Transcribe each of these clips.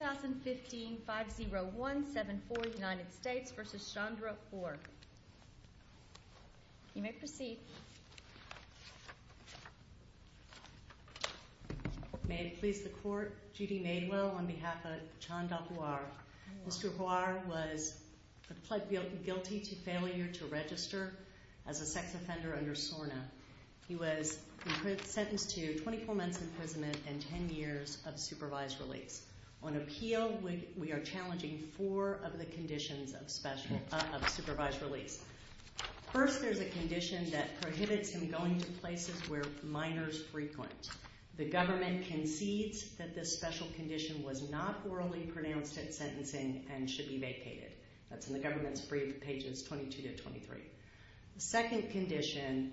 You may proceed. May it please the court, Judy Madewell on behalf of Chanda Huor. Mr. Huor was plead guilty to failure to register as a sex offender under SORNA. He was sentenced to 24 years in prison. Mr. Huor, we are challenging four of the conditions of supervised release. First, there's a condition that prohibits him going to places where minors frequent. The government concedes that this special condition was not orally pronounced at sentencing and should be vacated. That's in the government's brief, pages 22 to 23. The second condition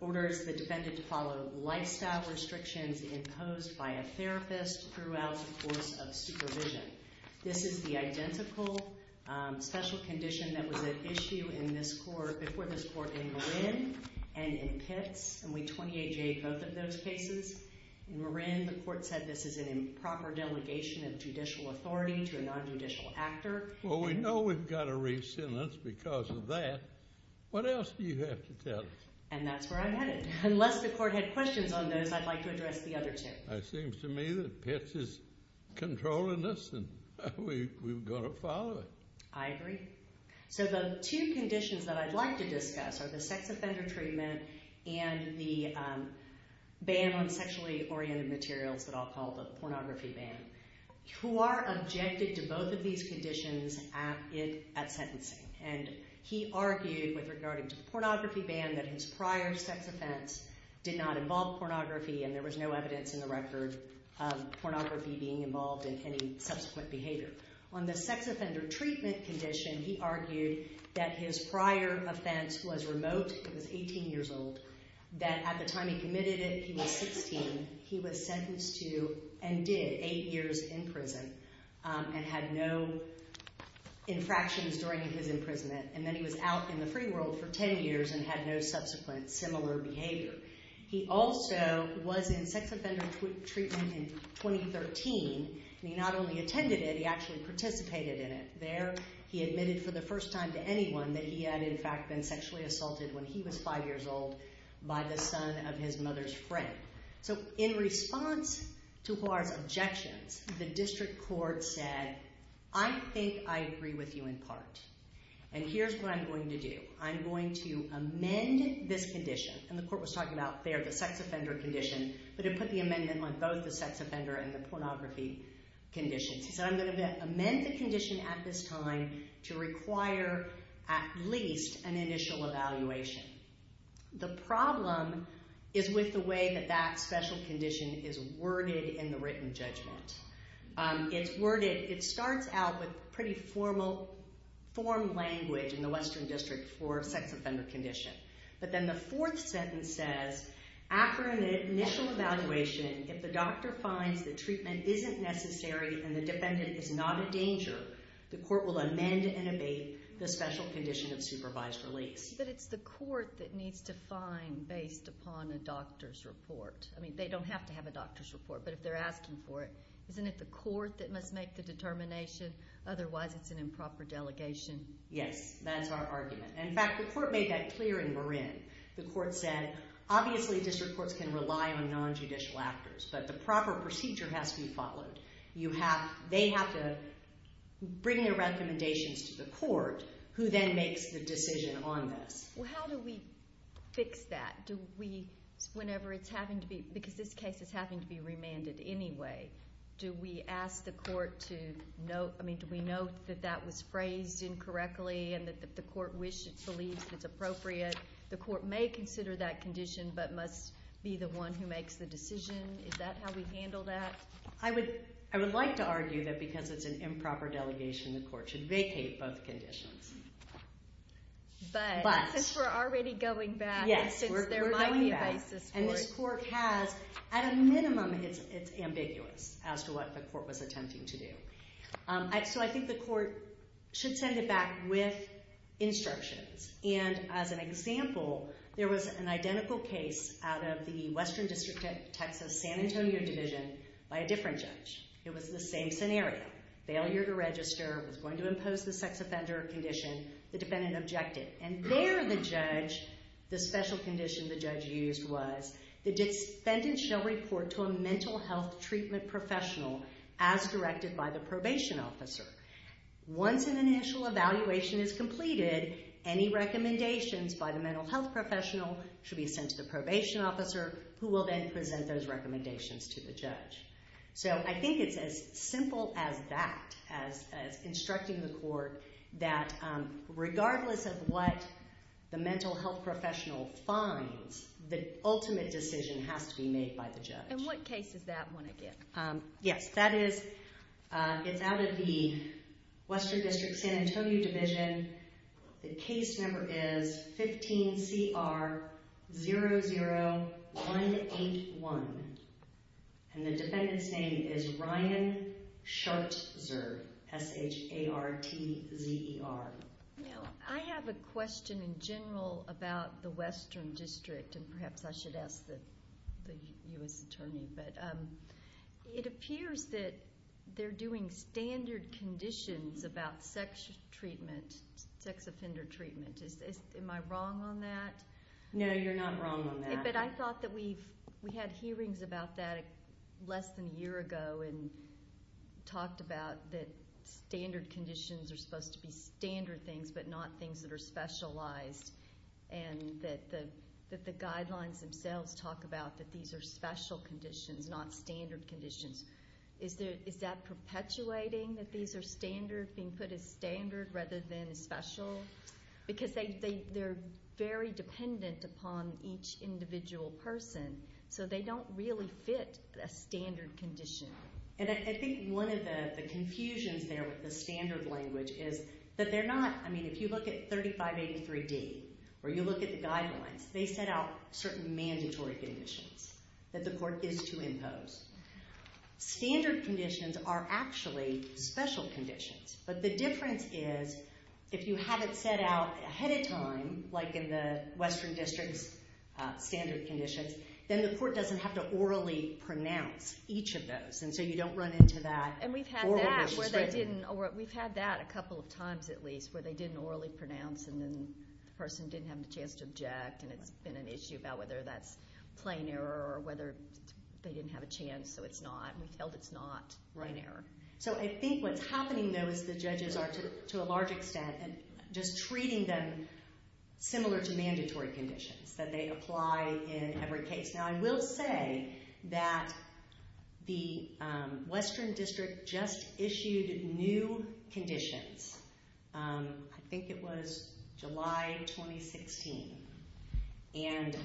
orders the defendant to follow lifestyle restrictions imposed by a therapist throughout the course of supervision. This is the identical special condition that was at issue in this court, before this court in Marin and in Pitts, and we 28-J both of those cases. In Marin, the court said this is an improper delegation of judicial authority to a non-judicial actor. Well, we know we've got to re-sentence because of that. What else do you have to tell us? And that's where I'm headed. Unless the court had questions on those, I'd like to address the other two. It seems to me that Pitts is controlling this and we've got to follow it. I agree. So the two conditions that I'd like to discuss are the sex offender treatment and the ban on sexually oriented materials that I'll call the pornography ban. Huor objected to both of these conditions at sentencing, and he argued with regard to the pornography ban that his prior sex offense did not involve pornography and there was no evidence in the record of pornography being involved in any subsequent behavior. On the sex offender treatment condition, he argued that his prior offense was remote. He was 18 years old. That at the time he committed it, he was 16. He was sentenced to and did eight years in prison and had no infractions during his imprisonment. And then he was out in the free world for 10 years and had no subsequent similar behavior. He also was in sex offender treatment in 2013, and he not only attended it, he actually participated in it. There he admitted for the first time to anyone that he had in fact been sexually assaulted when he was five years old by the son of his mother's friend. So in response to Huor's objections, the district court said, I think I agree with you in part, and here's what I'm going to do. I'm going to amend this condition, and the court was talking about there the sex offender condition, but it put the amendment on both the sex offender and the pornography conditions. He said, I'm going to amend the condition at this time to require at least an initial evaluation. The problem is with the way that that special condition is worded in the written judgment. It's worded, it starts out with pretty formal, form language in the Western District for sex offender condition. But then the fourth sentence says, after an initial evaluation, if the doctor finds the treatment isn't necessary and the defendant is not a danger, the court will amend and abate the special condition of supervised release. But it's the court that needs to find based upon a doctor's report. I mean, they don't have to have a doctor's report, but if they're asking for it, isn't it the court that must make the determination? Otherwise, it's an improper delegation. Yes, that's our argument. In fact, the court made that clear in Marin. The court said, obviously district courts can rely on nonjudicial actors, but the proper procedure has to be followed. They have to bring their recommendations to the court, who then makes the decision on this. Well, how do we fix that? Do we, whenever it's having to be, because this case is having to be remanded anyway, do we ask the court to note, I mean, do we note that that was phrased incorrectly and that the court wishes, believes it's appropriate? The court may consider that condition, but must be the one who makes the decision. Is that how we handle that? I would like to argue that because it's an improper delegation, the court should vacate both conditions. But, since we're already going back, since there might be vices for it. And this court has, at a minimum, it's ambiguous as to what the court was attempting to do. So I think the court should send it back with instructions. And, as an example, there was an identical case out of the Western District of Texas San Antonio Division by a different judge. It was the same scenario. Failure to register, was going to impose the sex offender condition, the defendant objected. And there the judge, the special condition the judge used was, the defendant shall report to a mental health treatment professional as directed by the probation officer. Once an initial evaluation is completed, any recommendations by the mental health professional should be sent to the probation officer, who will then present those recommendations to the judge. So I think it's as simple as that, as instructing the court that regardless of what the mental health professional finds, the ultimate decision has to be made by the judge. And what case is that one again? Yes, that is, it's out of the Western District San Antonio Division. The case number is 15CR00181. And the defendant's name is Ryan Schartzer, S-H-A-R-T-Z-E-R. I have a question in general about the Western District. And perhaps I should ask the U.S. Attorney. But it appears that they're doing standard conditions about sex treatment, sex offender treatment. Am I wrong on that? No, you're not wrong on that. But I thought that we had hearings about that less than a year ago and talked about that standard conditions are supposed to be standard things but not things that are specialized, and that the guidelines themselves talk about that these are special conditions, not standard conditions. Is that perpetuating that these are standard, being put as standard rather than as special? Because they're very dependent upon each individual person, so they don't really fit a standard condition. And I think one of the confusions there with the standard language is that they're not, I mean, if you look at 3583D or you look at the guidelines, they set out certain mandatory conditions that the court is to impose. Standard conditions are actually special conditions. But the difference is if you have it set out ahead of time, like in the Western District's standard conditions, then the court doesn't have to orally pronounce each of those, and so you don't run into that. And we've had that where they didn't, or we've had that a couple of times at least, where they didn't orally pronounce and then the person didn't have the chance to object, and it's been an issue about whether that's plain error or whether they didn't have a chance, so it's not. We've held it's not plain error. So I think what's happening, though, is the judges are, to a large extent, just treating them similar to mandatory conditions, that they apply in every case. Now, I will say that the Western District just issued new conditions. I think it was July 2016, and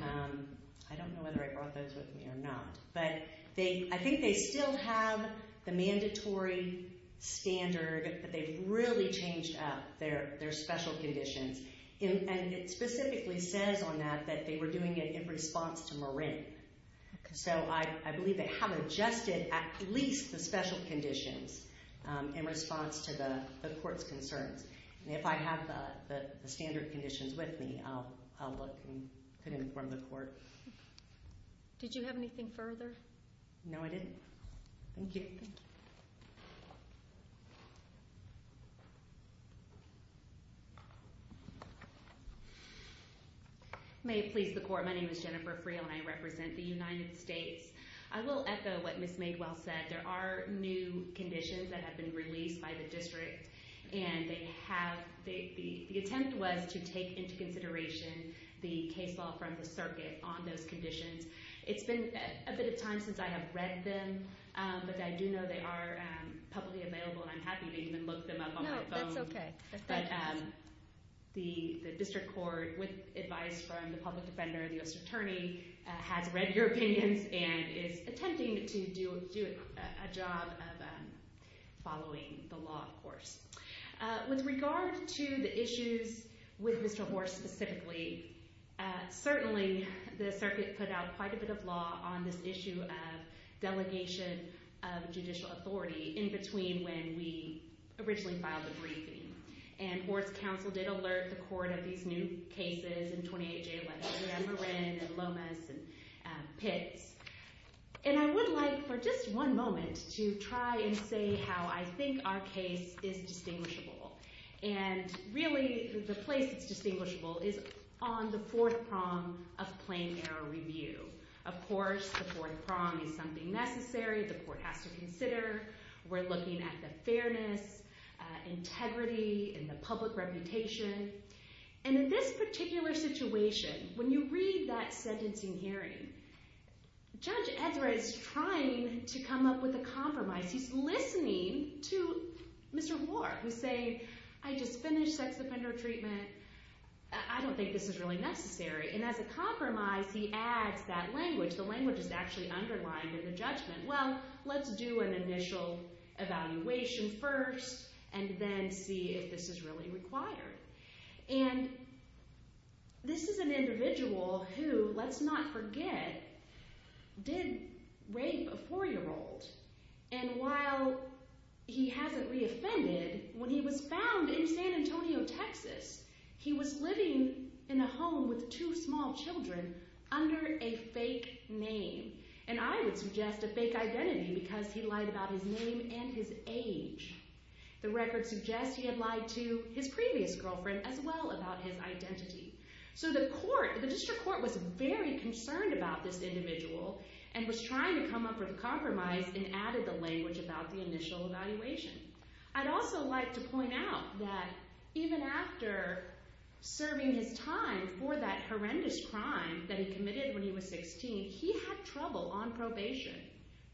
I don't know whether I brought those with me or not, but I think they still have the mandatory standard, but they've really changed up their special conditions. And it specifically says on that that they were doing it in response to Marin. So I believe they have adjusted at least the special conditions in response to the court's concerns. And if I have the standard conditions with me, I'll look and could inform the court. Did you have anything further? No, I didn't. Thank you. Thank you. May it please the Court, my name is Jennifer Friel, and I represent the United States. I will echo what Ms. Madewell said. There are new conditions that have been released by the District, and the attempt was to take into consideration the case law from the Circuit on those conditions. It's been a bit of time since I have read them, but I do know they are publicly available, and I'm happy to even look them up on my phone. No, that's okay. The District Court, with advice from the public defender, the U.S. Attorney, has read your opinions and is attempting to do a job of following the law, of course. With regard to the issues with Mr. Horst specifically, certainly the Circuit put out quite a bit of law on this issue of delegation of judicial authority in between when we originally filed the briefing. And Horst's counsel did alert the Court of these new cases in 28-J, like Ramorin and Lomas and Pitts. And I would like, for just one moment, to try and say how I think our case is distinguishable. And really, the place that's distinguishable is on the fourth prong of plain error review. Of course, the fourth prong is something necessary the Court has to consider. We're looking at the fairness, integrity, and the public reputation. And in this particular situation, when you read that sentencing hearing, Judge Ezra is trying to come up with a compromise. He's listening to Mr. Horst, who's saying, I just finished sex offender treatment. I don't think this is really necessary. And as a compromise, he adds that language. The language is actually underlined in the judgment. Well, let's do an initial evaluation first and then see if this is really required. And this is an individual who, let's not forget, did rape a four-year-old. And while he hasn't reoffended, when he was found in San Antonio, Texas, he was living in a home with two small children under a fake name. And I would suggest a fake identity because he lied about his name and his age. The record suggests he had lied to his previous girlfriend as well about his identity. So the District Court was very concerned about this individual and was trying to come up with a compromise and added the language about the initial evaluation. I'd also like to point out that even after serving his time for that horrendous crime that he committed when he was 16, he had trouble on probation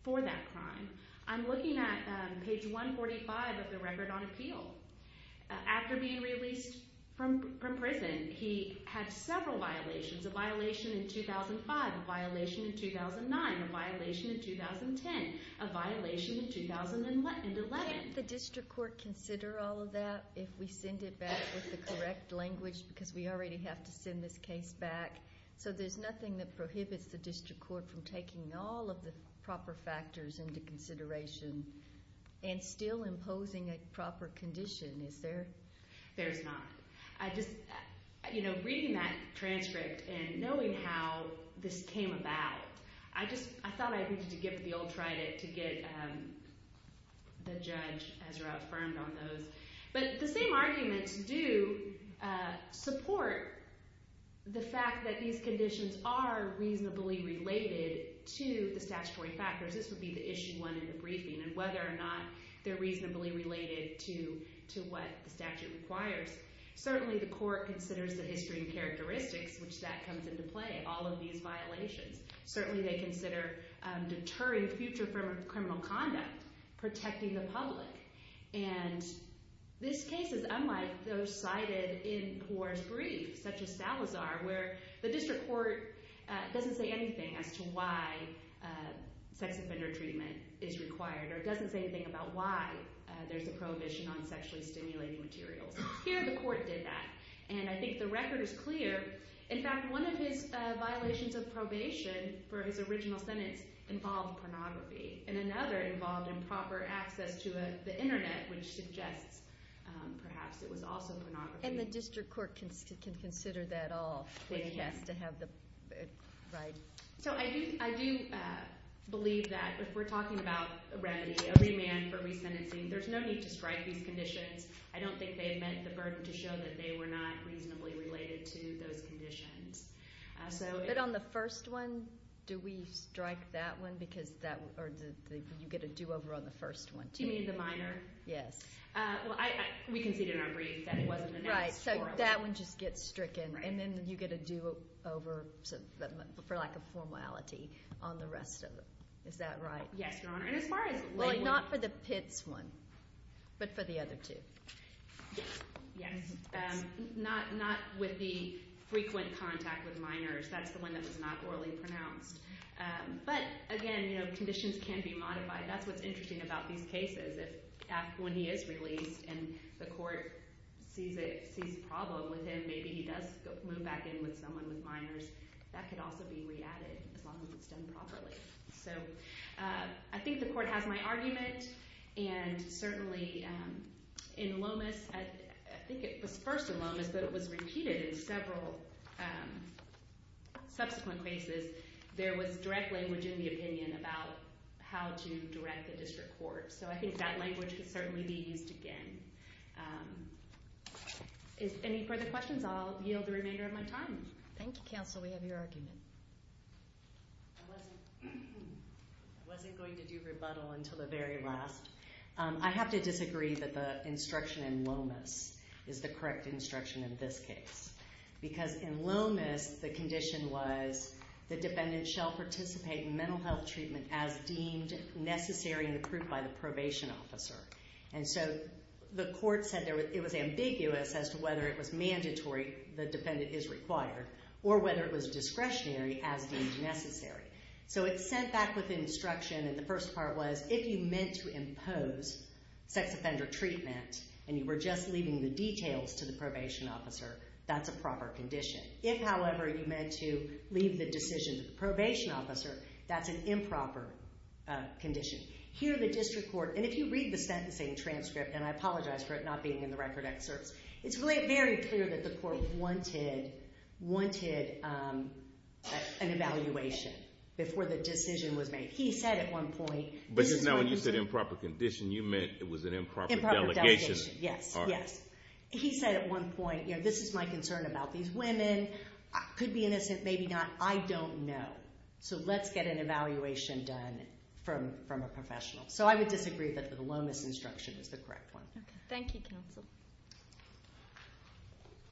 for that crime. I'm looking at page 145 of the Record on Appeal. After being released from prison, he had several violations, a violation in 2005, a violation in 2009, a violation in 2010, a violation in 2011. Can't the District Court consider all of that if we send it back with the correct language because we already have to send this case back? So there's nothing that prohibits the District Court from taking all of the proper factors into consideration and still imposing a proper condition, is there? There's not. You know, reading that transcript and knowing how this came about, I thought I needed to give it the old trident to get the judge, Ezra, affirmed on those. But the same arguments do support the fact that these conditions are reasonably related to the statutory factors. This would be the issue one in the briefing, and whether or not they're reasonably related to what the statute requires. Certainly the court considers the history and characteristics, which that comes into play, all of these violations. Certainly they consider deterring future criminal conduct, protecting the public, and this case is unlike those cited in Poirot's brief, such as Salazar, where the District Court doesn't say anything as to why sex offender treatment is required or doesn't say anything about why there's a prohibition on sexually stimulating materials. Here the court did that, and I think the record is clear. In fact, one of his violations of probation for his original sentence involved pornography, and another involved improper access to the Internet, which suggests perhaps it was also pornography. And the District Court can consider that all. They can. It has to have the right. So I do believe that if we're talking about a remedy, a remand for resentencing, there's no need to strike these conditions. I don't think they've met the burden to show that they were not reasonably related to those conditions. But on the first one, do we strike that one? Or do you get a do-over on the first one too? You mean the minor? Yes. Well, we conceded in our brief that it wasn't an act. Right, so that one just gets stricken, and then you get a do-over for lack of formality on the rest of them. Is that right? Yes, Your Honor. Well, not for the Pitts one, but for the other two. Yes. Not with the frequent contact with minors. That's the one that was not orally pronounced. But again, conditions can be modified. That's what's interesting about these cases. When he is released and the court sees a problem with him, maybe he does move back in with someone with minors. That could also be re-added as long as it's done properly. So I think the court has my argument. And certainly in Lomas, I think it was first in Lomas, but it was repeated in several subsequent cases, there was direct language in the opinion about how to direct the district court. So I think that language could certainly be used again. Any further questions? I'll yield the remainder of my time. Thank you, counsel. We have your argument. I wasn't going to do rebuttal until the very last. I have to disagree that the instruction in Lomas is the correct instruction in this case because in Lomas, the condition was the defendant shall participate in mental health treatment as deemed necessary and approved by the probation officer. And so the court said it was ambiguous as to whether it was mandatory the defendant is required or whether it was discretionary as deemed necessary. So it's sent back with instruction. And the first part was if you meant to impose sex offender treatment and you were just leaving the details to the probation officer, that's a proper condition. If, however, you meant to leave the decision to the probation officer, that's an improper condition. Here the district court, and if you read the sentencing transcript, and I apologize for it not being in the record excerpts, it's very clear that the court wanted an evaluation before the decision was made. He said at one point this is my concern. But just now when you said improper condition, you meant it was an improper delegation. Improper delegation, yes, yes. He said at one point, you know, this is my concern about these women. I could be innocent, maybe not. I don't know. So let's get an evaluation done from a professional. So I would disagree that the Lomas instruction is the correct one. Okay. Thank you, counsel.